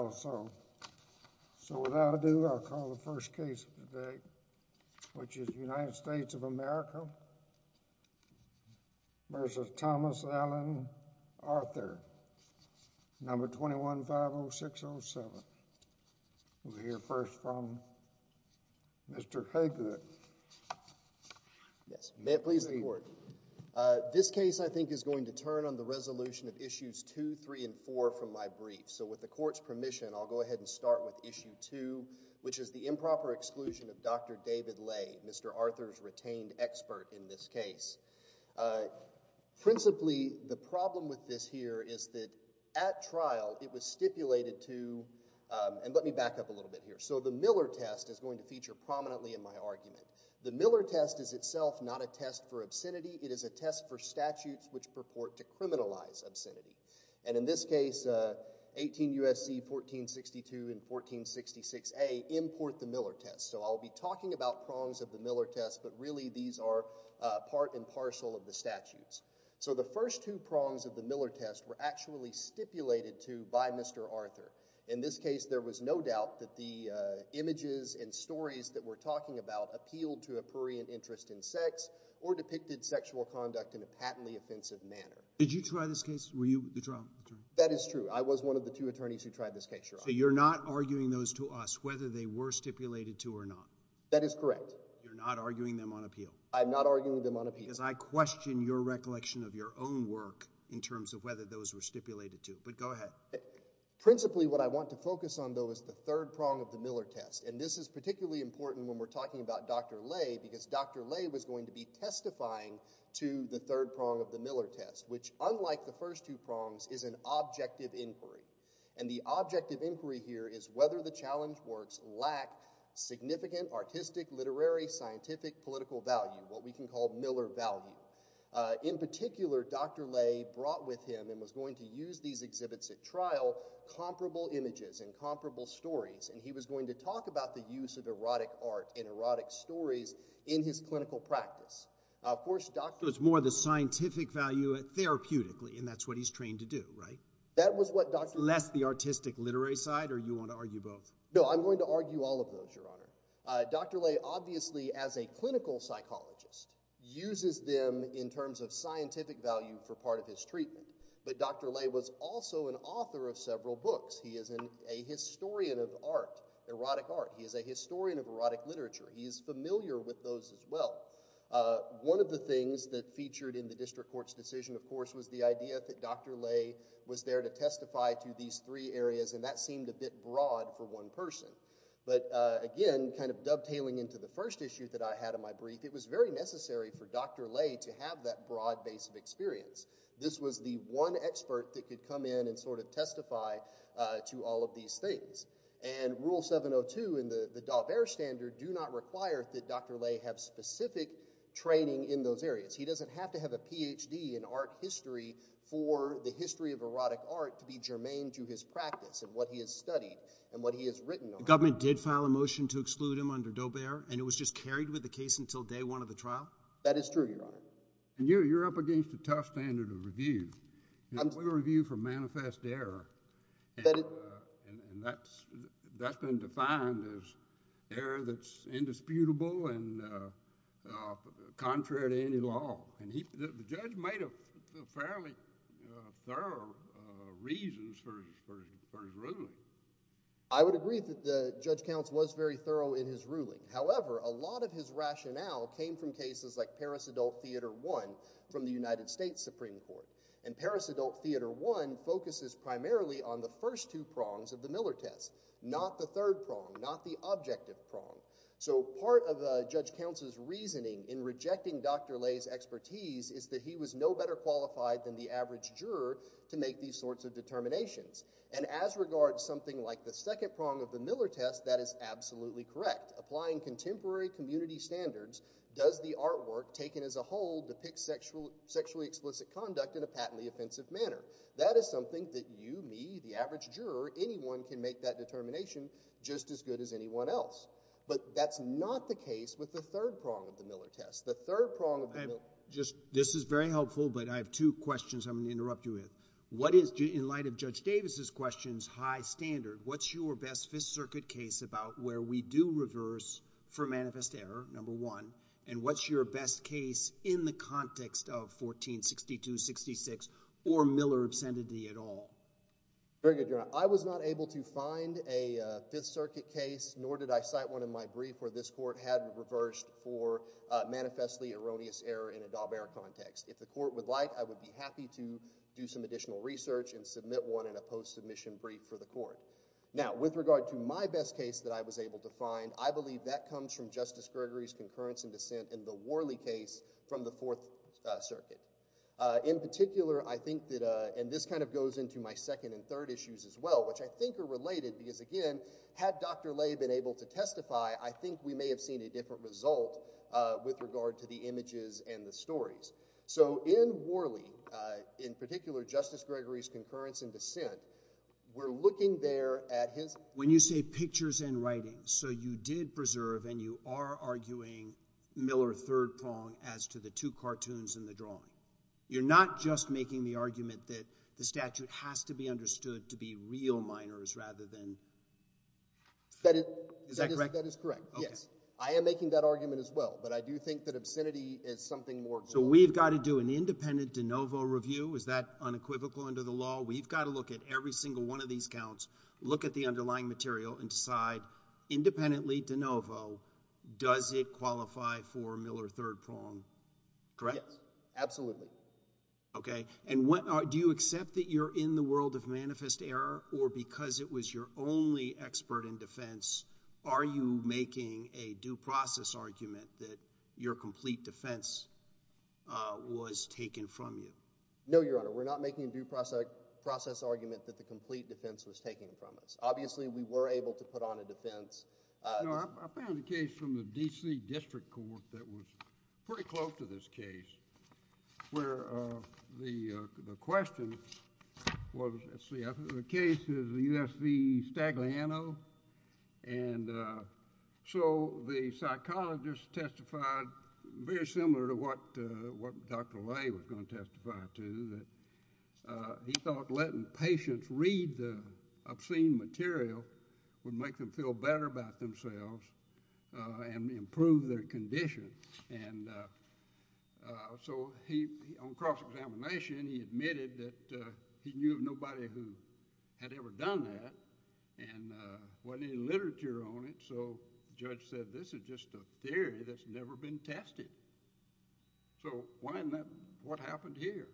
May it please the court. This case I think is going to turn on the resolution of issues 2, 3, and 4 from my brief. So with the court's permission, I'll go ahead and start with issue 2, which is the improper exclusion of Dr. David Lay, Mr. Arthur's retained expert in this case. Principally, the problem with this here is that at trial it was stipulated to, and let me back up a little bit here. So the Miller test is going to feature prominently in my argument. The Miller test is itself not a test for obscenity, it is a test for statutes which purport to criminalize obscenity. And in this case, 18 U.S.C. 1462 and 1466a import the Miller test. So I'll be talking about prongs of the Miller test, but really these are part and parcel of the statutes. So the first two prongs of the Miller test were actually stipulated to by Mr. Arthur. In this case, there was no doubt that the images and stories that we're talking about appealed to a prurient interest in sex or depicted sexual conduct in a patently offensive manner. Did you try this case? Were you the trial attorney? That is true. I was one of the two attorneys who tried this case, Your Honor. So you're not arguing those to us whether they were stipulated to or not? That is correct. You're not arguing them on appeal? I'm not arguing them on appeal. Because I question your recollection of your own work in terms of whether those were stipulated to. But go ahead. Principally, what I want to focus on though is the third prong of the Miller test, and this is particularly important when we're talking about Dr. Lay because Dr. Lay was the first to do the third prong of the Miller test, which unlike the first two prongs is an objective inquiry. And the objective inquiry here is whether the challenge works lack significant artistic, literary, scientific, political value, what we can call Miller value. In particular, Dr. Lay brought with him and was going to use these exhibits at trial comparable images and comparable stories, and he was going to talk about the use of erotic art and erotic stories in his clinical practice. So it's more the scientific value therapeutically, and that's what he's trained to do, right? That was what Dr. Lay... Less the artistic, literary side, or you want to argue both? No, I'm going to argue all of those, Your Honor. Dr. Lay obviously as a clinical psychologist uses them in terms of scientific value for part of his treatment, but Dr. Lay was also an author of several books. He is a historian of art, erotic art. He is a historian of erotic literature. He is familiar with those as well. One of the things that featured in the district court's decision, of course, was the idea that Dr. Lay was there to testify to these three areas, and that seemed a bit broad for one person. But again, kind of dovetailing into the first issue that I had in my brief, it was very necessary for Dr. Lay to have that broad base of experience. This was the one expert that could come in and sort of testify to all of these things. And Rule 702 in the Daubert standard do not require that Dr. Lay have specific training in those areas. He doesn't have to have a PhD in art history for the history of erotic art to be germane to his practice and what he has studied and what he has written on it. The government did file a motion to exclude him under Daubert, and it was just carried with the case until day one of the trial? That is true, Your Honor. And you're up against a tough standard of review. We review for manifest error, and that's been defined as error that's indisputable and contrary to any law. And the judge made fairly thorough reasons for his ruling. I would agree that the judge counsel was very thorough in his ruling. However, a lot of his rationale came from cases like Paris Adult Theater I from the And Paris Adult Theater I focuses primarily on the first two prongs of the Miller test, not the third prong, not the objective prong. So part of the judge counsel's reasoning in rejecting Dr. Lay's expertise is that he was no better qualified than the average juror to make these sorts of determinations. And as regards something like the second prong of the Miller test, that is absolutely correct. Applying contemporary community standards, does the artwork taken as a whole depict sexually explicit conduct in a patently offensive manner? That is something that you, me, the average juror, anyone can make that determination just as good as anyone else. But that's not the case with the third prong of the Miller test. The third prong of the Miller test. This is very helpful, but I have two questions I'm going to interrupt you with. What is, in light of Judge Davis's questions, high standard? What's your best Fifth Circuit case about where we do reverse for manifest error, number one? And what's your best case in the context of 1462-66 or Miller obscenity at all? Very good, Your Honor. I was not able to find a Fifth Circuit case, nor did I cite one in my brief where this court had reversed for manifestly erroneous error in a Daubert context. If the court would like, I would be happy to do some additional research and submit one in a post-submission brief for the court. Now with regard to my best case that I was able to find, I believe that comes from Justice Gregory's concurrence and dissent in the Worley case from the Fourth Circuit. In particular, I think that, and this kind of goes into my second and third issues as well, which I think are related, because again, had Dr. Lay been able to testify, I think we may have seen a different result with regard to the images and the stories. So in Worley, in particular Justice Gregory's concurrence and dissent, we're looking there at his... You're not arguing Miller third prong as to the two cartoons in the drawing. You're not just making the argument that the statute has to be understood to be real minors rather than... Is that correct? That is correct, yes. Okay. I am making that argument as well, but I do think that obscenity is something more... So we've got to do an independent de novo review? Is that unequivocal under the law? We've got to look at every single one of these counts, look at the underlying material, and does it qualify for Miller third prong, correct? Yes. Absolutely. Okay. And do you accept that you're in the world of manifest error, or because it was your only expert in defense, are you making a due process argument that your complete defense was taken from you? No, Your Honor. We're not making a due process argument that the complete defense was taken from us. Obviously we were able to put on a defense... I found a case from the D.C. District Court that was pretty close to this case, where the question was... let's see, the case is the U.S. v. Stagliano, and so the psychologist testified very similar to what Dr. Lay was going to testify to, that he thought letting the patients read the obscene material would make them feel better about themselves and improve their condition, and so on cross-examination, he admitted that he knew of nobody who had ever done that, and there wasn't any literature on it, so the judge said, this is just a theory that's never been tested, so why isn't that... what happened here?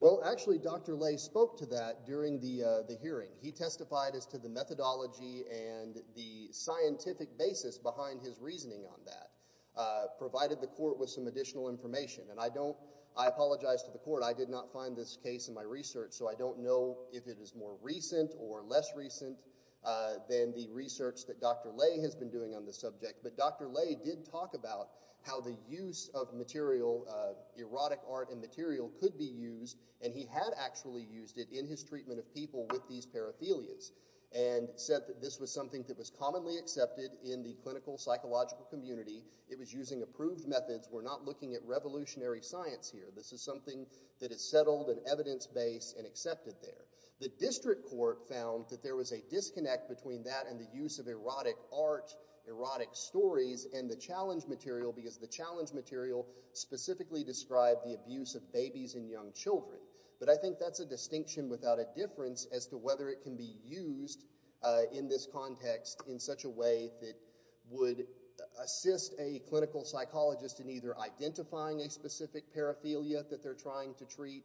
Well, actually Dr. Lay spoke to that during the hearing. He testified as to the methodology and the scientific basis behind his reasoning on that, provided the court with some additional information, and I don't... I apologize to the court, I did not find this case in my research, so I don't know if it is more recent or less recent than the research that Dr. Lay has been doing on the subject, but Dr. Lay did talk about how the use of material, erotic art and material, could be used, and he had actually used it in his treatment of people with these parothelias, and said that this was something that was commonly accepted in the clinical psychological community. It was using approved methods. We're not looking at revolutionary science here. This is something that is settled and evidence-based and accepted there. The district court found that there was a disconnect between that and the use of erotic art, erotic stories, and the challenge material, because the challenge material specifically described the abuse of babies and young children, but I think that's a distinction without a difference as to whether it can be used in this context in such a way that would assist a clinical psychologist in either identifying a specific parothelia that they're trying to treat,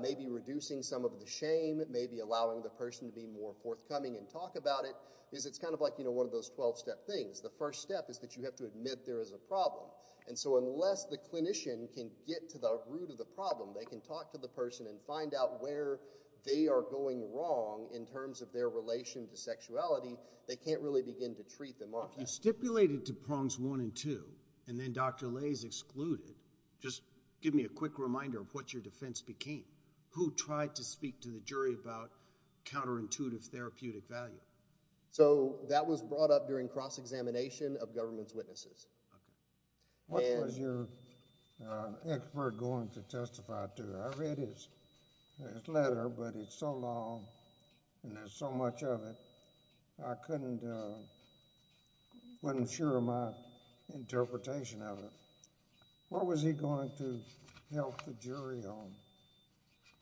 maybe reducing some of the shame, maybe allowing the person to be more forthcoming and talk about it, because it's kind of like, you know, one of those 12-step things. The first step is that you have to admit there is a problem, and so unless the clinician can get to the root of the problem, they can talk to the person and find out where they are going wrong in terms of their relation to sexuality, they can't really begin to treat them offhand. You stipulated to prongs one and two, and then Dr. Lay is excluded. Just give me a quick reminder of what your defense became. Who tried to speak to the jury about counterintuitive therapeutic value? So that was brought up during cross-examination of government's witnesses. Okay. What was your expert going to testify to? I read his letter, but it's so long, and there's so much of it, I couldn't, wasn't sure of my interpretation of it. What was he going to help the jury on?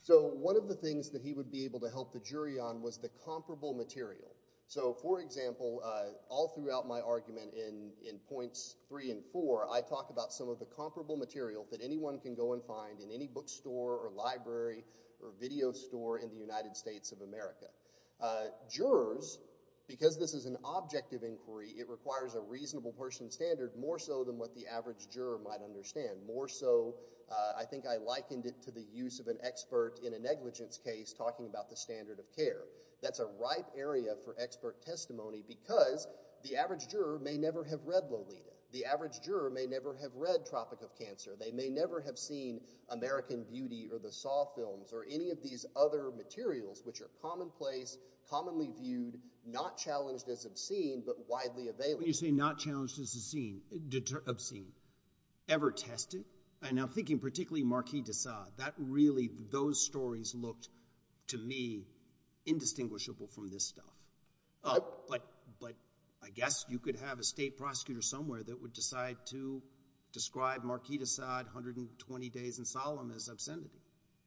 So one of the things that he would be able to help the jury on was the comparable material. So for example, all throughout my argument in points three and four, I talk about some of the comparable material that anyone can go and find in any bookstore or library or video store in the United States of America. Jurors, because this is an objective inquiry, it requires a reasonable person standard more so than what the average juror might understand. More so, I think I likened it to the use of an expert in a negligence case talking about the standard of care. That's a ripe area for expert testimony because the average juror may never have read Lolita. The average juror may never have read Tropic of Cancer. They may never have seen American Beauty or the Saw films or any of these other materials which are commonplace, commonly viewed, not challenged as obscene, but widely available. But when you say not challenged as obscene, ever tested, and I'm thinking particularly Marquis de Sade, that really, those stories looked to me indistinguishable from this stuff. But I guess you could have a state prosecutor somewhere that would decide to describe Marquis de Sade, 120 Days in Solemn as obscenity.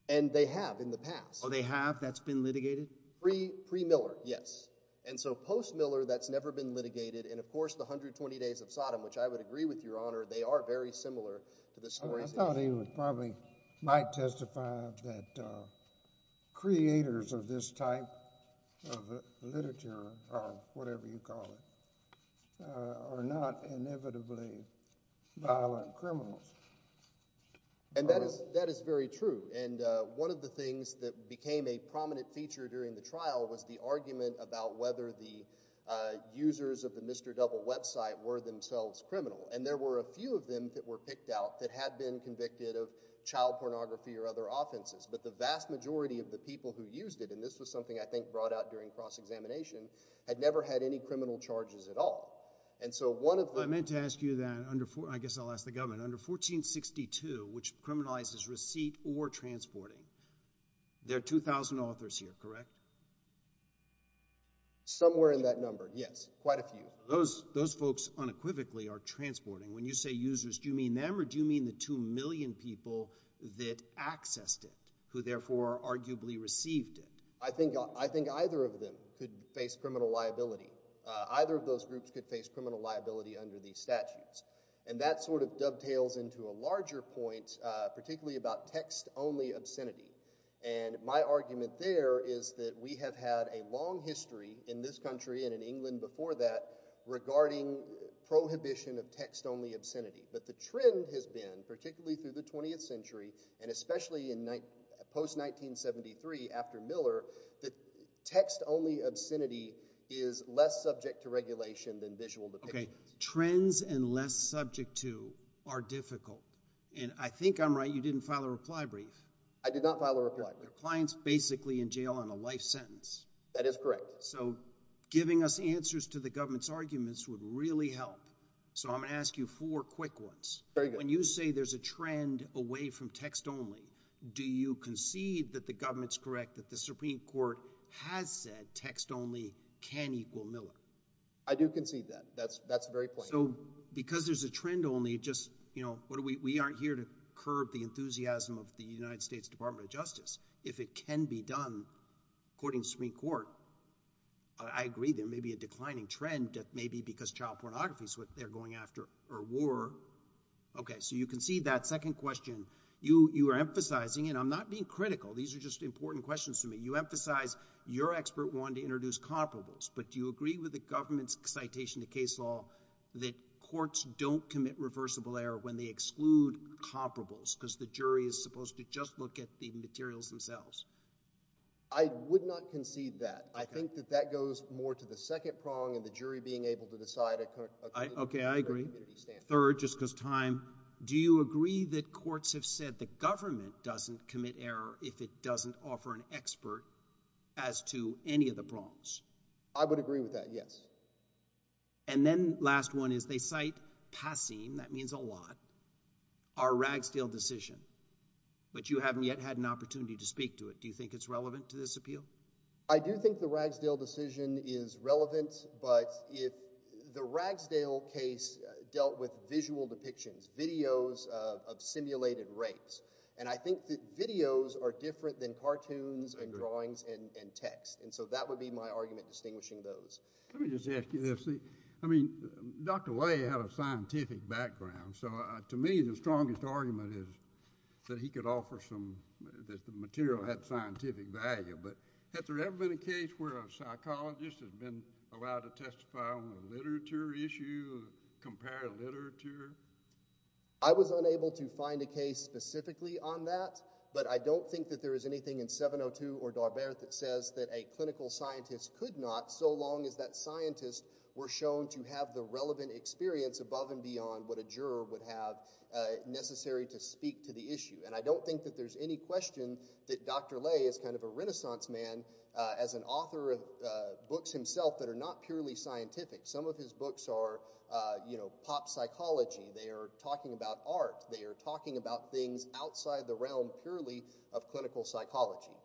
And they have in the past. Oh, they have? That's been litigated? Pre-Miller, yes. And so post-Miller, that's never been litigated, and of course, the 120 Days of Sodom, which I would agree with, Your Honor, they are very similar to the stories in- I thought he would probably, might testify that creators of this type of literature or whatever you call it, are not inevitably violent criminals. And that is very true, and one of the things that became a prominent feature during the trial was that there were a number of people that were picked out whether the users of the Mr. Double website were themselves criminal. And there were a few of them that were picked out that had been convicted of child pornography or other offenses. But the vast majority of the people who used it, and this was something I think brought out during cross-examination, had never had any criminal charges at all. And so one of the- I meant to ask you that under, I guess I'll ask the government, under 1462, which criminalizes receipt or transporting, there are 2,000 authors here, correct? Somewhere in that number, yes, quite a few. Those folks unequivocally are transporting. When you say users, do you mean them or do you mean the 2 million people that accessed it, who therefore arguably received it? I think either of them could face criminal liability. Either of those groups could face criminal liability under these statutes. And that sort of dovetails into a larger point, particularly about text-only obscenity. And my argument there is that we have had a long history in this country and in England before that regarding prohibition of text-only obscenity. But the trend has been, particularly through the 20th century, and especially in post-1973, after Miller, that text-only obscenity is less subject to regulation than visual depictions. Okay. Trends and less subject to are difficult. And I think I'm right, you didn't file a reply brief. I did not file a reply brief. Your client's basically in jail on a life sentence. That is correct. So giving us answers to the government's arguments would really help. So I'm going to ask you four quick ones. Very good. When you say there's a trend away from text-only, do you concede that the government's correct, that the Supreme Court has said text-only can equal Miller? I do concede that. That's the very point. That's the very mechanism of the United States Department of Justice. If it can be done, according to the Supreme Court, I agree there may be a declining trend that may be because child pornography is what they're going after, or war. Okay. So you concede that. Second question. You are emphasizing, and I'm not being critical, these are just important questions to me. You emphasize your expert wanted to introduce comparables, but do you agree with the government's citation to case law that courts don't commit reversible error when they exclude comparables? Because the jury is supposed to just look at the materials themselves. I would not concede that. I think that that goes more to the second prong and the jury being able to decide according to their community standards. Okay, I agree. Third, just because time. Do you agree that courts have said the government doesn't commit error if it doesn't offer an expert as to any of the prongs? I would agree with that, yes. And then last one is they cite PASSEM. That means a lot. Our Ragsdale decision, but you haven't yet had an opportunity to speak to it. Do you think it's relevant to this appeal? I do think the Ragsdale decision is relevant, but if the Ragsdale case dealt with visual depictions, videos of simulated rapes, and I think that videos are different than cartoons and drawings and text, and so that would be my argument distinguishing those. Let me just ask you this. I mean, Dr. Lay had a scientific background, so to me the strongest argument is that he could offer some, that the material had scientific value, but has there ever been a case where a psychologist has been allowed to testify on a literature issue, compare literature? I was unable to find a case specifically on that, but I don't think that there is anything in 702 or Darbert that says that a clinical scientist could not, so long as that scientist were shown to have the relevant experience above and beyond what a juror would have necessary to speak to the issue, and I don't think that there's any question that Dr. Lay is kind of a renaissance man as an author of books himself that are not purely scientific. Some of his books are, you know, pop psychology, they are talking about art, they are talking about things outside the realm purely of clinical psychology,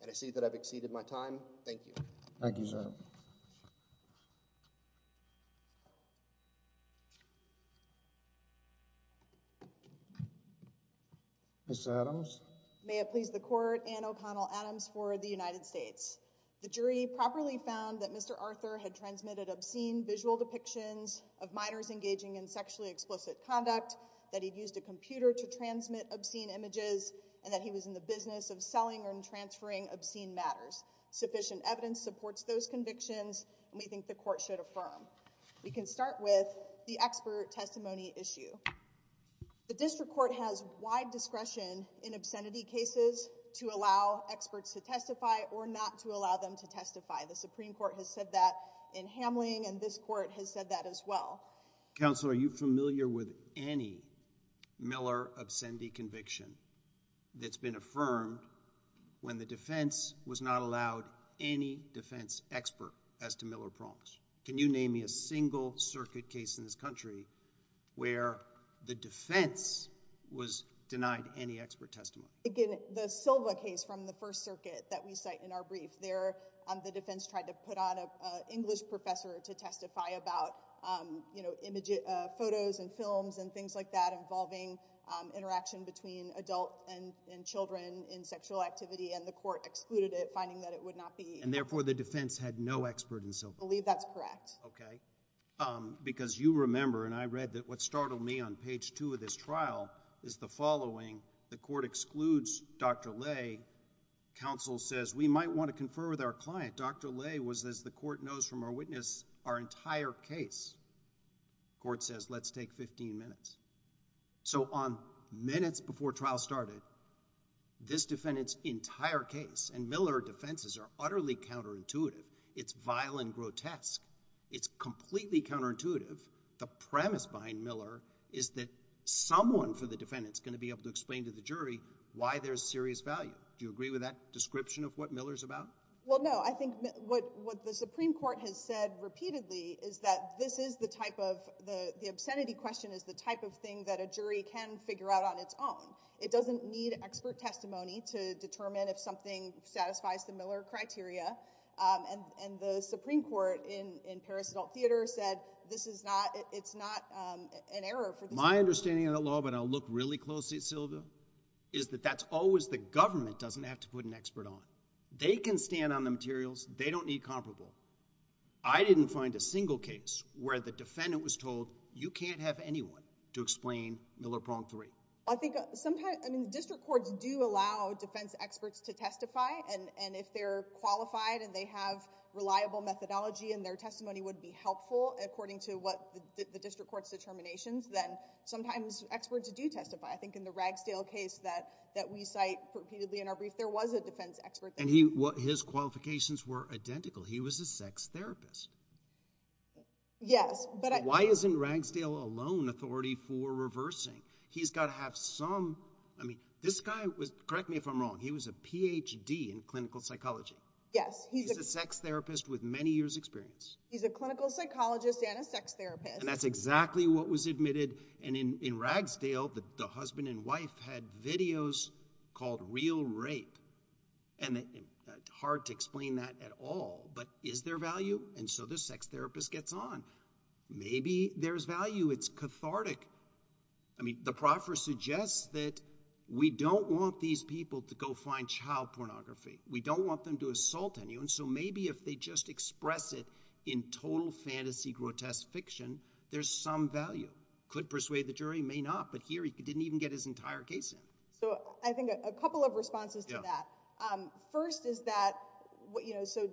and I see that I've exceeded my time. Thank you. Thank you, sir. Ms. Adams? May it please the Court, Anne O'Connell Adams for the United States. The jury properly found that Mr. Arthur had transmitted obscene visual depictions of minors engaging in sexually explicit conduct, that he'd used a computer to transmit obscene images, and that he was in the business of selling and transferring obscene matters. Sufficient evidence supports those convictions, and we think the Court should affirm. We can start with the expert testimony issue. The District Court has wide discretion in obscenity cases to allow experts to testify or not to allow them to testify. The Supreme Court has said that in Hamling, and this Court has said that as well. Counsel, are you familiar with any Miller obscenity conviction that's been affirmed when the defense was not allowed any defense expert as to Miller prompts? Can you name me a single circuit case in this country where the defense was denied any expert testimony? Again, the Silva case from the First Circuit that we cite in our brief, there the defense tried to put on an English professor to testify about, you know, photos and films and things like that involving interaction between adults and children in sexual activity, and the Court excluded it, finding that it would not be— And therefore, the defense had no expert in Silva? I believe that's correct. Okay. Because you remember, and I read that what startled me on page two of this trial is the includes Dr. Lay. Counsel says, we might want to confer with our client. Dr. Lay was, as the Court knows from our witness, our entire case. Court says, let's take 15 minutes. So on minutes before trial started, this defendant's entire case, and Miller defenses are utterly counterintuitive. It's vile and grotesque. It's completely counterintuitive. The premise behind Miller is that someone for the defendant is going to be able to explain to the jury why there's serious value. Do you agree with that description of what Miller's about? Well, no. I think what the Supreme Court has said repeatedly is that this is the type of—the obscenity question is the type of thing that a jury can figure out on its own. It doesn't need expert testimony to determine if something satisfies the Miller criteria, and the Supreme Court in Paris Adult Theater said this is not—it's not an error for— My understanding of the law, but I'll look really closely at Sylvia, is that that's always the government doesn't have to put an expert on. They can stand on the materials. They don't need comparable. I didn't find a single case where the defendant was told, you can't have anyone to explain Miller pronged three. I think sometimes—I mean, district courts do allow defense experts to testify, and if they're qualified and they have reliable methodology and their testimony would be helpful according to what the district court's determinations, then sometimes experts do testify. I think in the Ragsdale case that we cite repeatedly in our brief, there was a defense expert there. And his qualifications were identical. He was a sex therapist. Yes, but— Why isn't Ragsdale alone authority for reversing? He's got to have some—I mean, this guy was—correct me if I'm wrong—he was a Ph.D. in clinical psychology. Yes, he's a— He's a sex therapist with many years' experience. He's a clinical psychologist and a sex therapist. And that's exactly what was admitted. And in Ragsdale, the husband and wife had videos called real rape. And it's hard to explain that at all, but is there value? And so the sex therapist gets on. Maybe there's value. It's cathartic. I mean, the proffer suggests that we don't want these people to go find child pornography. We don't want them to assault anyone. And so maybe if they just express it in total fantasy grotesque fiction, there's some value. Could persuade the jury. May not. But here, he didn't even get his entire case in. So I think a couple of responses to that. First is that, you know, so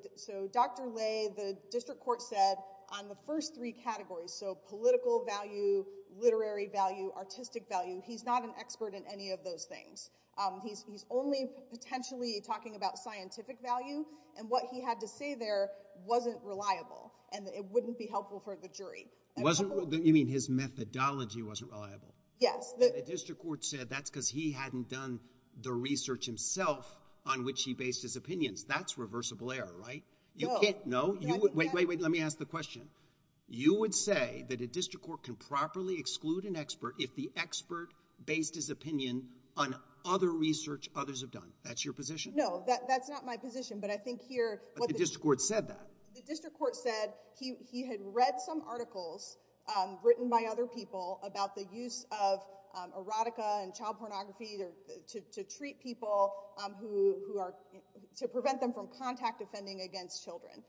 Dr. Lay, the district court said on the first three categories, so political value, literary value, artistic value, he's not an expert in any of those things. He's only potentially talking about scientific value. And what he had to say there wasn't reliable. And it wouldn't be helpful for the jury. It wasn't. You mean his methodology wasn't reliable? Yes. The district court said that's because he hadn't done the research himself on which he based his opinions. That's reversible error, right? You can't. No, you would. Wait, wait, wait. Let me ask the question. You would say that a district court can properly exclude an expert if the expert based his opinion on other research others have done. That's your position? No. That's not my position. But I think here— But the district court said that. The district court said he had read some articles written by other people about the use of erotica and child pornography to treat people who are—to prevent them from contact offending against children.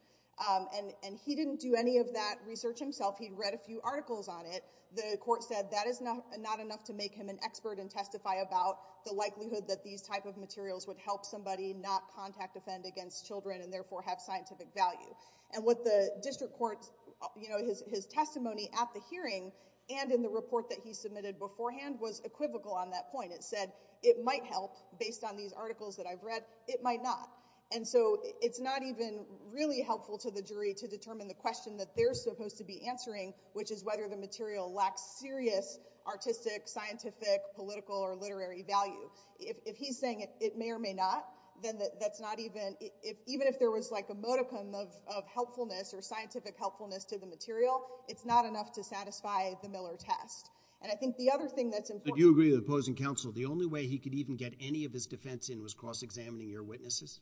And he didn't do any of that research himself. He read a few articles on it. The court said that is not enough to make him an expert and testify about the likelihood that these type of materials would help somebody not contact offend against children and therefore have scientific value. And what the district court—you know, his testimony at the hearing and in the report that he submitted beforehand was equivocal on that point. It said it might help based on these articles that I've read. It might not. And so it's not even really helpful to the jury to determine the question that they're supposed to be answering, which is whether the material lacks serious artistic, scientific, political, or literary value. If he's saying it may or may not, then that's not even—even if there was like a modicum of helpfulness or scientific helpfulness to the material, it's not enough to satisfy the Miller test. And I think the other thing that's important— But you agree with the opposing counsel the only way he could even get any of his defense in was cross-examining your witnesses?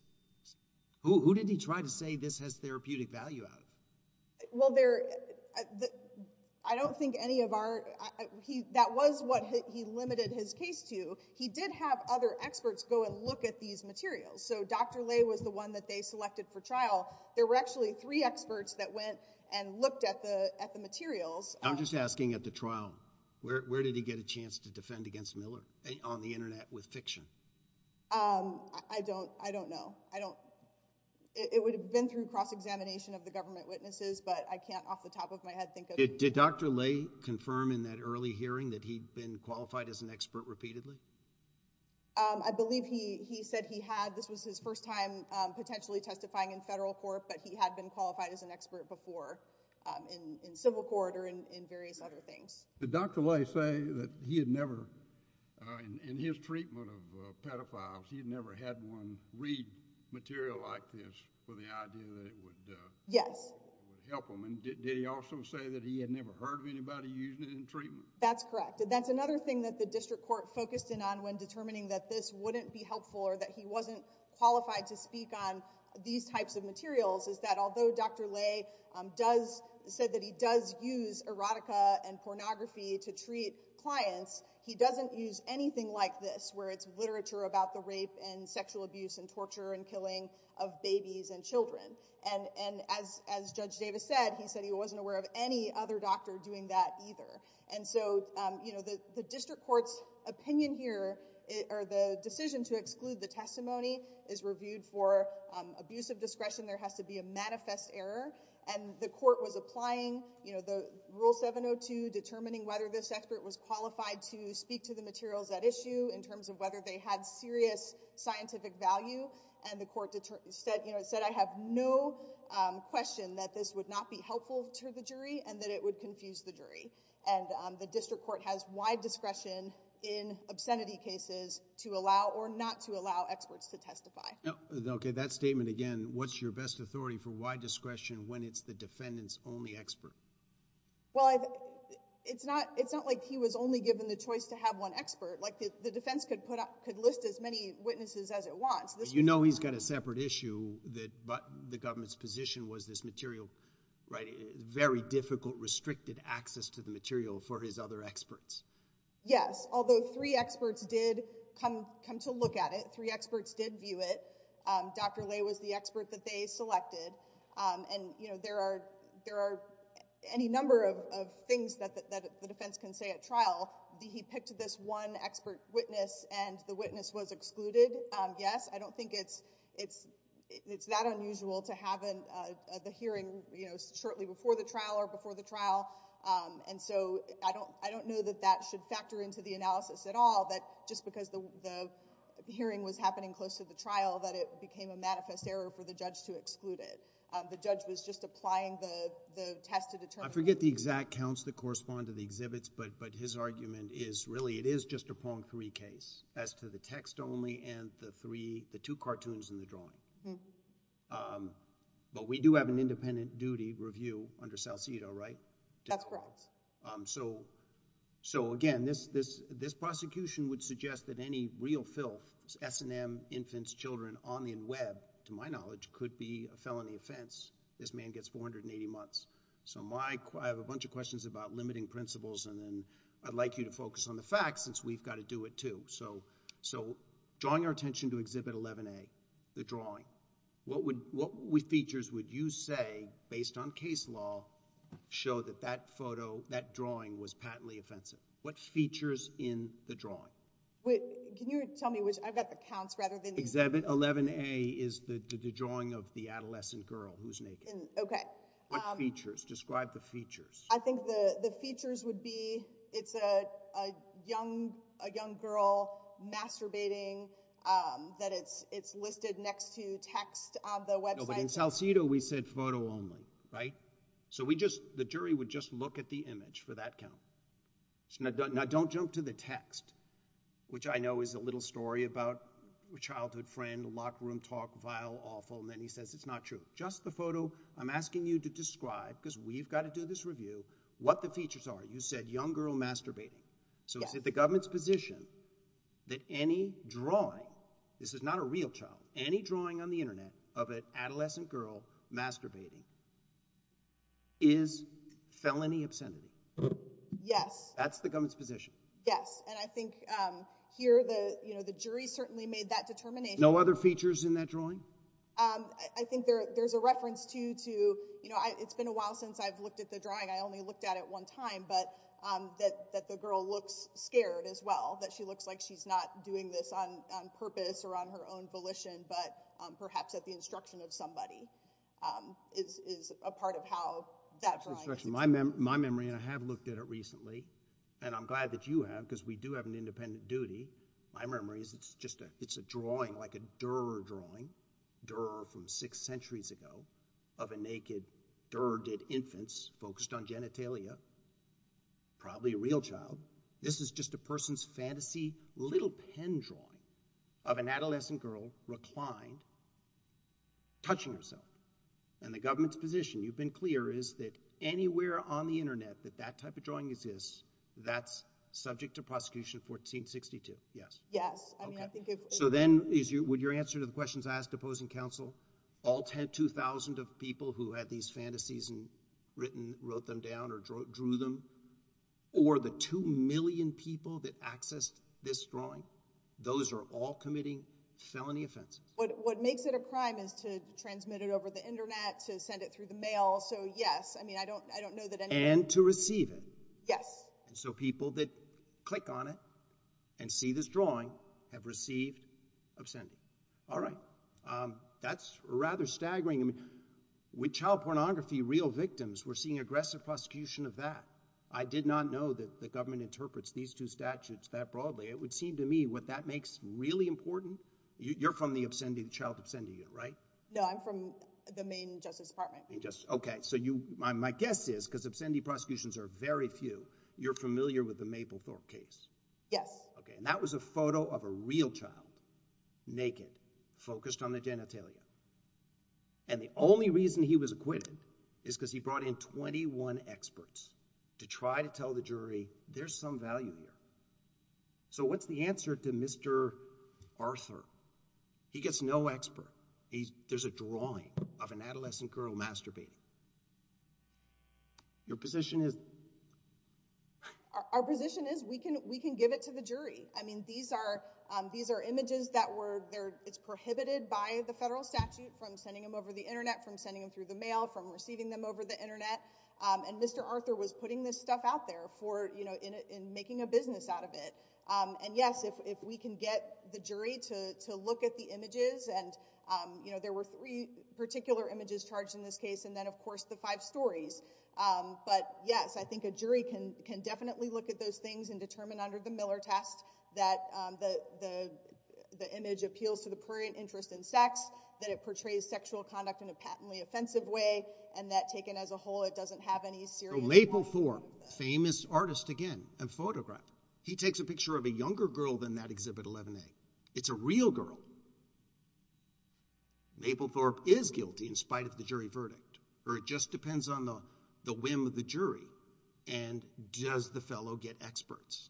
Who did he try to say this has therapeutic value of? Well, there—I don't think any of our—that was what he limited his case to. He did have other experts go and look at these materials. So Dr. Lay was the one that they selected for trial. There were actually three experts that went and looked at the materials. I'm just asking at the trial, where did he get a chance to defend against Miller? On the internet with fiction? I don't know. I don't—it would have been through cross-examination of the government witnesses, but I can't off the top of my head think of— Did Dr. Lay confirm in that early hearing that he'd been qualified as an expert repeatedly? I believe he said he had. This was his first time potentially testifying in federal court, but he had been qualified as an expert before in civil court or in various other things. Did Dr. Lay say that he had never—in his treatment of pedophiles, he had never had anyone read material like this for the idea that it would help him? Yes. Did he also say that he had never heard of anybody using it in treatment? That's correct. That's another thing that the district court focused in on when determining that this wouldn't be helpful or that he wasn't qualified to speak on these types of materials, is that although Dr. Lay does—said that he does use erotica and pornography to treat clients, he doesn't use anything like this where it's literature about the rape and sexual abuse and torture and killing of babies and children. As Judge Davis said, he said he wasn't aware of any other doctor doing that either. The district court's opinion here, or the decision to exclude the testimony, is reviewed for abusive discretion. There has to be a manifest error, and the court was applying Rule 702, determining whether this expert was qualified to speak to the materials at issue in terms of whether they had serious scientific value, and the court said, I have no question that this would not be helpful to the jury and that it would confuse the jury. The district court has wide discretion in obscenity cases to allow or not to allow experts to testify. Okay. That statement again, what's your best authority for wide discretion when it's the defendant's only expert? Well, it's not like he was only given the choice to have one expert. The defense could list as many witnesses as it wants. You know he's got a separate issue, but the government's position was this material—it's very difficult, restricted access to the material for his other experts. Yes. Although three experts did come to look at it, three experts did view it. Dr. Lay was the expert that they selected, and you know, there are any number of things that the defense can say at trial. He picked this one expert witness and the witness was excluded. Yes. I don't think it's that unusual to have the hearing, you know, shortly before the trial or before the trial, and so I don't know that that should factor into the analysis at all, that just because the hearing was happening close to the trial that it became a manifest error for the judge to exclude it. The judge was just applying the test to determine... I forget the exact counts that correspond to the exhibits, but his argument is really, it is just a Pong three case as to the text only and the three, the two cartoons and the drawing. But we do have an independent duty review under Salcido, right? That's correct. So again, this prosecution would suggest that any real filth, S&M, infants, children, on the web, to my knowledge, could be a felony offense. This man gets 480 months. So I have a bunch of questions about limiting principles, and then I'd like you to focus on the facts since we've got to do it too. So drawing our attention to Exhibit 11A, the drawing, what features would you say, based on case law, show that that photo, that drawing was patently offensive? What features in the drawing? Can you tell me which, I've got the counts rather than... Exhibit 11A is the drawing of the adolescent girl who's naked. Okay. What features? Describe the features. I think the features would be it's a young girl masturbating, that it's listed next to text on the website. In Salcido, we said photo only, right? So we just, the jury would just look at the image for that count. Now don't jump to the text, which I know is a little story about a childhood friend, a locker room talk, vile, awful, and then he says it's not true. Just the photo. I'm asking you to describe, because we've got to do this review, what the features are. You said young girl masturbating. So is it the government's position that any drawing, this is not a real child, any drawing on the internet of an adolescent girl masturbating is felony obscenity? Yes. That's the government's position? Yes. And I think here, the jury certainly made that determination. No other features in that drawing? I think there's a reference to, it's been a while since I've looked at the drawing. I only looked at it one time, but that the girl looks scared as well, that she looks like she's not doing this on purpose or on her own volition, but perhaps at the instruction of somebody, is a part of how that drawing. My memory, and I have looked at it recently, and I'm glad that you have, because we do have an independent duty, my memory is it's a drawing, like a Durer drawing, Durer from six centuries ago, of a naked, Durer did infants, focused on genitalia, probably a real child. This is just a person's fantasy, little pen drawing of an adolescent girl reclined, touching herself. And the government's position, you've been clear, is that anywhere on the internet that that type of drawing exists, that's subject to prosecution 1462. Yes. Yes. Okay. So then, would your answer to the questions asked opposing counsel, all 2,000 of people who had these fantasies written, wrote them down, or drew them, or the 2 million people that accessed this drawing, those are all committing felony offenses? What makes it a crime is to transmit it over the internet, to send it through the mail, so yes, I mean, I don't know that anyone- And to receive it. Yes. And so people that click on it and see this drawing have received obscenity. All right. That's rather staggering. I mean, with child pornography, real victims were seeing aggressive prosecution of that. I did not know that the government interprets these two statutes that broadly. It would seem to me what that makes really important, you're from the obscenity, child obscenity unit, right? No, I'm from the main justice department. Okay. So my guess is, because obscenity prosecutions are very few, you're familiar with the Mapplethorpe case. Yes. Okay. And that was a photo of a real child, naked, focused on the genitalia. And the only reason he was acquitted is because he brought in 21 experts to try to tell the jury there's some value here. So what's the answer to Mr. Arthur? He gets no expert. There's a drawing of an adolescent girl masturbating. Your position is- Our position is we can give it to the jury. I mean, these are images that were, it's prohibited by the federal statute from sending them over the internet, from sending them through the mail, from receiving them over the internet. And Mr. Arthur was putting this stuff out there for, you know, in making a business out of it. And yes, if we can get the jury to look at the images, and you know, there were three particular images charged in this case, and then of course the five stories. But yes, I think a jury can definitely look at those things and determine under the Miller test that the image appeals to the prurient interest in sex, that it portrays sexual conduct in a patently offensive way, and that taken as a whole, it doesn't have any serious- So Mapplethorpe, famous artist again, a photographer. He takes a picture of a younger girl than that Exhibit 11A. It's a real girl. Mapplethorpe is guilty in spite of the jury verdict, or it just depends on the whim of the jury. And does the fellow get experts?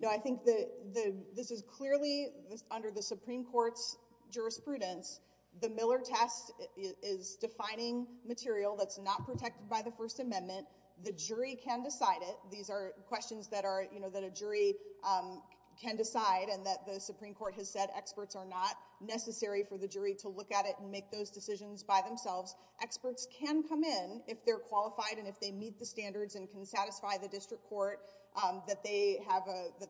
No, I think that this is clearly under the Supreme Court's jurisprudence. The Miller test is defining material that's not protected by the First Amendment. The jury can decide it. These are questions that are, you know, that a jury can decide, and that the Supreme Court has said experts are not necessary for the jury to look at it and make those decisions by themselves. Experts can come in if they're qualified and if they meet the standards and can satisfy the district court that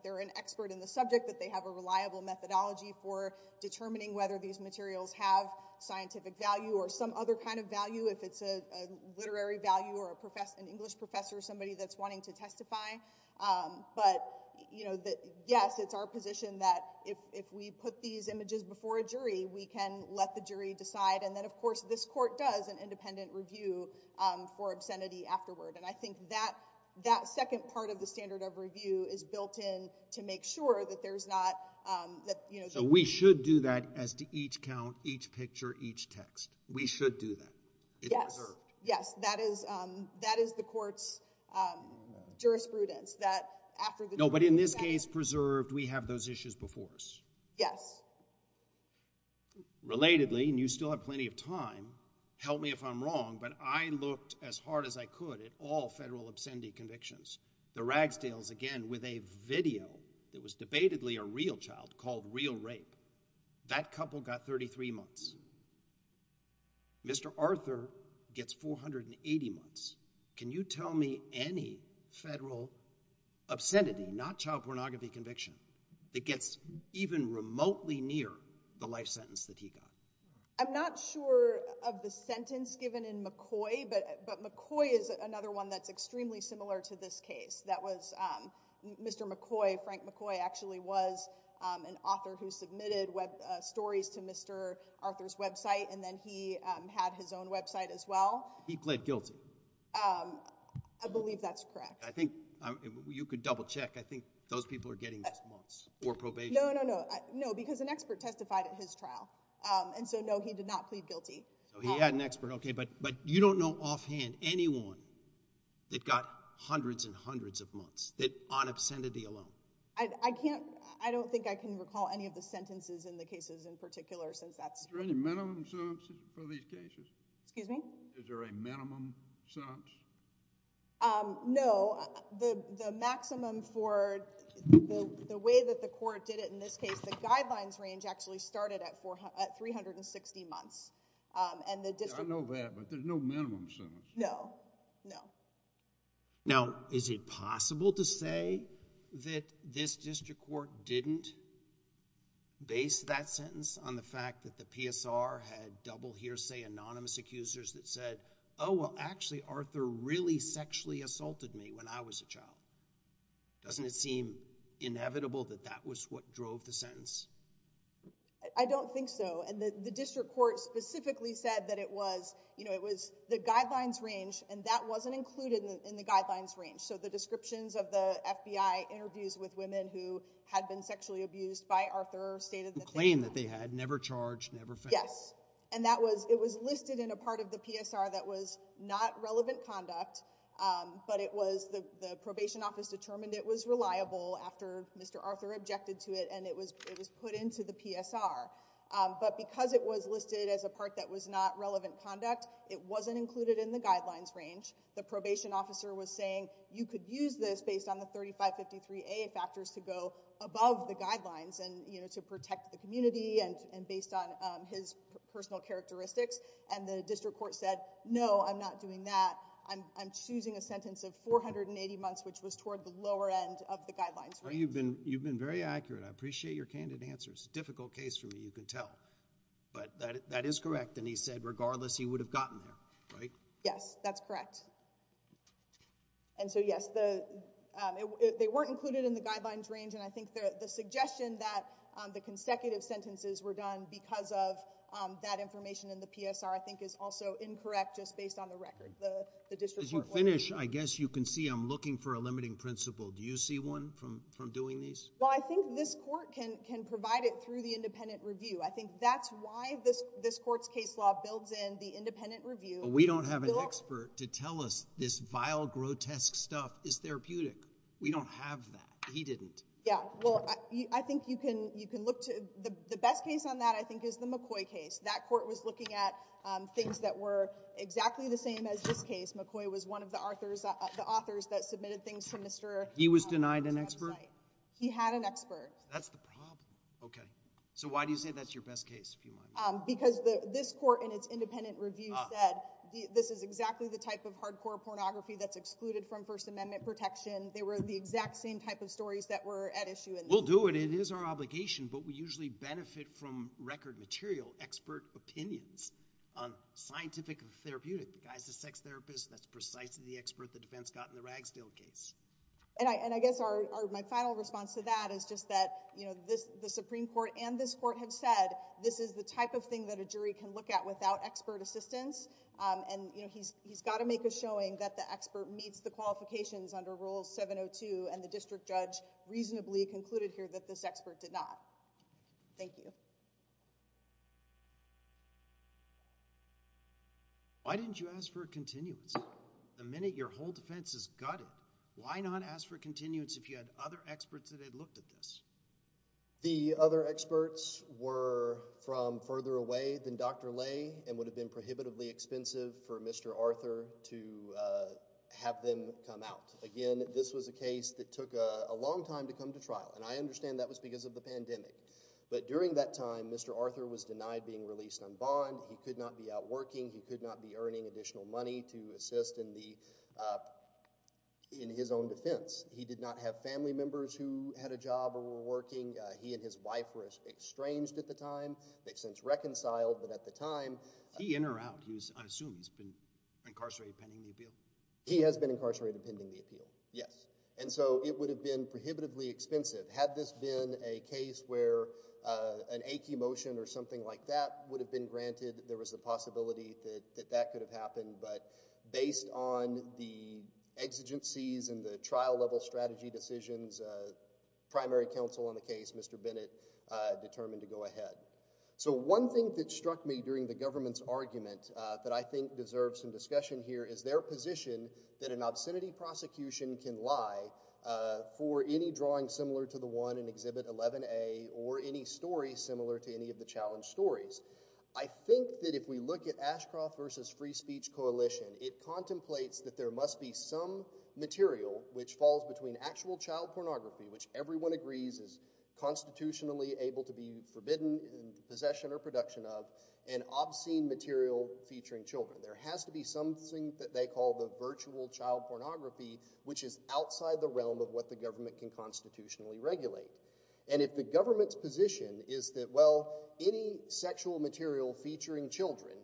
they're an expert in the subject, that they have a reliable methodology for determining whether these materials have scientific value or some other kind of value. If it's a literary value or an English professor, somebody that's wanting to testify. But, you know, yes, it's our position that if we put these images before a jury, we can let the jury decide. And then, of course, this court does an independent review for obscenity afterward. And I think that second part of the standard of review is built in to make sure that there's not, you know— We should do that as to each count, each picture, each text. We should do that. It's reserved. Yes. Yes, that is the court's jurisprudence that after the jury— No, but in this case, preserved, we have those issues before us. Yes. Relatedly, and you still have plenty of time, help me if I'm wrong, but I looked as hard as I could at all federal obscenity convictions. The Ragsdales, again, with a video that was debatedly a real child called Real Rape. That couple got 33 months. Mr. Arthur gets 480 months. Can you tell me any federal obscenity, not child pornography conviction, that gets even remotely near the life sentence that he got? I'm not sure of the sentence given in McCoy, but McCoy is another one that's extremely similar to this case. That was Mr. McCoy, Frank McCoy, actually was an author who submitted web stories to Mr. Arthur's website, and then he had his own website as well. He pled guilty. I believe that's correct. I think you could double check. I think those people are getting those months for probation. No, no, no. No, because an expert testified at his trial, and so no, he did not plead guilty. So he had an expert, okay, but you don't know offhand anyone that got hundreds and hundreds of months on obscenity alone? I don't think I can recall any of the sentences in the cases in particular since that's... Is there any minimum sentence for these cases? Excuse me? Is there a minimum sentence? No, the maximum for the way that the court did it in this case, the guidelines range actually started at 360 months, and the district... I know that, but there's no minimum sentence? No, no. Now, is it possible to say that this district court didn't base that sentence on the fact that the PSR had double hearsay anonymous accusers that said, oh, well, actually, Arthur really sexually assaulted me when I was a child? Doesn't it seem inevitable that that was what drove the sentence? I don't think so, and the district court specifically said that it was, you know, it was the guidelines range, and that wasn't included in the guidelines range. So, the descriptions of the FBI interviews with women who had been sexually abused by Arthur stated that... The claim that they had, never charged, never found. Yes, and that was... it was listed in a part of the PSR that was not relevant conduct, but it was... the probation office determined it was reliable after Mr. Arthur objected to it, and it was put into the PSR, but because it was listed as a part that was not relevant conduct, it wasn't included in the guidelines range. The probation officer was saying, you could use this based on the 3553A factors to go above the guidelines and, you know, to protect the community and based on his personal characteristics, and the district court said, no, I'm not doing that. I'm choosing a sentence of 480 months, which was toward the lower end of the guidelines range. You've been very accurate. I appreciate your candid answers. It's a difficult case for me, you can tell, but that is correct, and he said, regardless he would have gotten there, right? Yes, that's correct, and so yes, they weren't included in the guidelines range, and I think the suggestion that the consecutive sentences were done because of that information in the PSR I think is also incorrect just based on the record, the district court... As you finish, I guess you can see I'm looking for a limiting principle. Do you see one from doing these? Well, I think this court can provide it through the independent review. I think that's why this court's case law builds in the independent review. We don't have an expert to tell us this vile, grotesque stuff is therapeutic. We don't have that. He didn't. Yeah, well, I think you can look to... the best case on that I think is the McCoy case. That court was looking at things that were exactly the same as this case. McCoy was one of the authors that submitted things to Mr.... He was denied an expert? He had an expert. That's the problem. Okay. So, why do you say that's your best case, if you mind? Because this court in its independent review said this is exactly the type of hardcore pornography that's excluded from First Amendment protection. They were the exact same type of stories that were at issue in... We'll do it. It is our obligation, but we usually benefit from record material, expert opinions on scientific and therapeutic. The guy's a sex therapist. That's precisely the expert the defense got in the Ragsdale case. And I guess my final response to that is just that the Supreme Court and this court have said this is the type of thing that a jury can look at without expert assistance and he's got to make a showing that the expert meets the qualifications under Rule 702 and the district judge reasonably concluded here that this expert did not. Thank you. Why didn't you ask for a continuance? The minute your whole defense is gutted, why not ask for continuance if you had other experts that had looked at this? The other experts were from further away than Dr. Lay and would have been prohibitively expensive for Mr. Arthur to have them come out. Again, this was a case that took a long time to come to trial and I understand that was because of the pandemic. But during that time, Mr. Arthur was denied being released on bond. He could not be out working. He could not be earning additional money to assist in his own defense. He did not have family members who had a job or were working. He and his wife were estranged at the time. They've since reconciled, but at the time... He in or out? I assume he's been incarcerated pending the appeal? He has been incarcerated pending the appeal, yes. And so it would have been prohibitively expensive had this been a case where an that could have happened, but based on the exigencies and the trial level strategy decisions, primary counsel on the case, Mr. Bennett, determined to go ahead. So one thing that struck me during the government's argument that I think deserves some discussion here is their position that an obscenity prosecution can lie for any drawing similar to the one in Exhibit 11A or any story similar to any of the challenge stories. I think that if we look at Ashcroft v. Free Speech Coalition, it contemplates that there must be some material which falls between actual child pornography, which everyone agrees is constitutionally able to be forbidden possession or production of, and obscene material featuring children. There has to be something that they call the virtual child pornography, which is outside the realm of what the government can constitutionally regulate. And if the government's position is that, well, any sexual material featuring children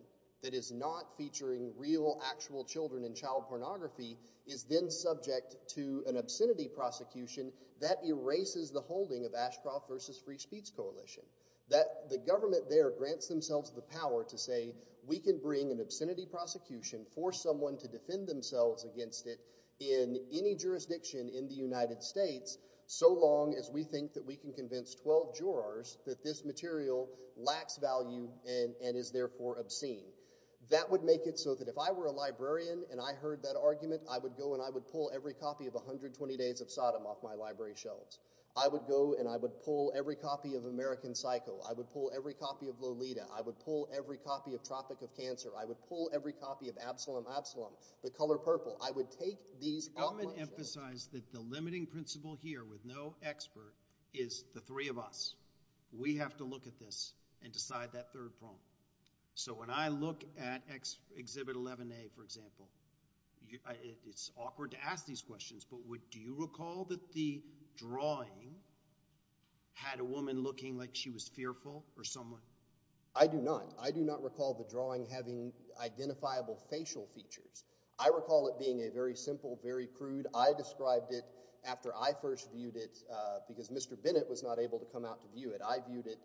that is not featuring real actual children and child pornography is then subject to an obscenity prosecution, that erases the holding of Ashcroft v. Free Speech Coalition. That the government there grants themselves the power to say, we can bring an obscenity prosecution, force someone to defend themselves against it in any jurisdiction in the United States, so long as we think that we can convince 12 jurors that this material lacks value and is therefore obscene. That would make it so that if I were a librarian and I heard that argument, I would go and I would pull every copy of 120 Days of Sodom off my library shelves. I would go and I would pull every copy of American Psycho. I would pull every copy of Lolita. I would pull every copy of Tropic of Cancer. I would pull every copy of Absalom Absalom, the color purple. I would take these off my shelves. The government emphasized that the limiting principle here with no expert is the three of us. We have to look at this and decide that third problem. So when I look at Exhibit 11A, for example, it's awkward to ask these questions, but do you recall that the drawing had a woman looking like she was fearful or someone? I do not. I do not recall the drawing having identifiable facial features. I recall it being a very simple, very crude, I described it after I first viewed it because Mr. Bennett was not able to come out to view it. I viewed it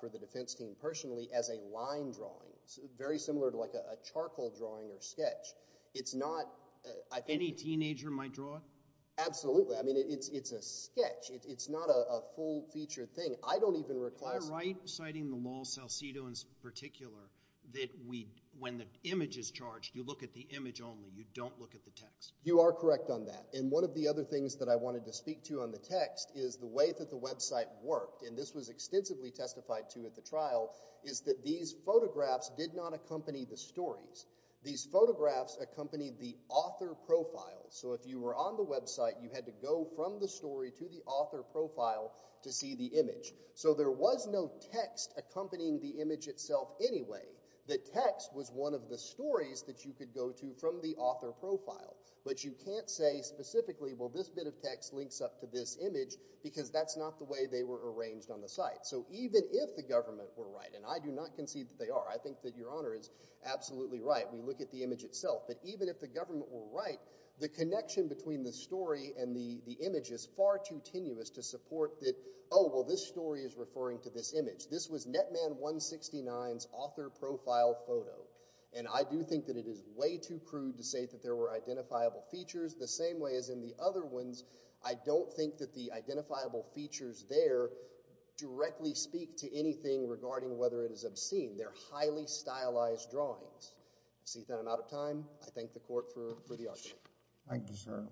for the defense team personally as a line drawing. Very similar to like a charcoal drawing or sketch. It's not. Any teenager might draw it? Absolutely. I mean, it's a sketch. It's not a full featured thing. I don't even reclassify. Am I right, citing the Lol Salcido in particular, that when the image is charged, you look at the image only? You don't look at the text? You are correct on that. And one of the other things that I wanted to speak to on the text is the way that the website worked, and this was extensively testified to at the trial, is that these photographs did not accompany the stories. These photographs accompanied the author profile. So if you were on the website, you had to go from the story to the author profile to see the image. So there was no text accompanying the image itself anyway. The text was one of the stories that you could go to from the author profile, but you can't say specifically, well, this bit of text links up to this image, because that's not the way they were arranged on the site. So even if the government were right, and I do not concede that they are. I think that Your Honor is absolutely right. We look at the image itself, but even if the government were right, the connection between the story and the image is far too tenuous to support that, oh, well, this story is referring to this image. This was Netman 169's author profile photo, and I do think that it is way too crude to say that there were identifiable features the same way as in the other ones. I don't think that the identifiable features there directly speak to anything regarding whether it is obscene. They're highly stylized drawings. See that I'm out of time? I thank the Court for the argument. Thank you, sir.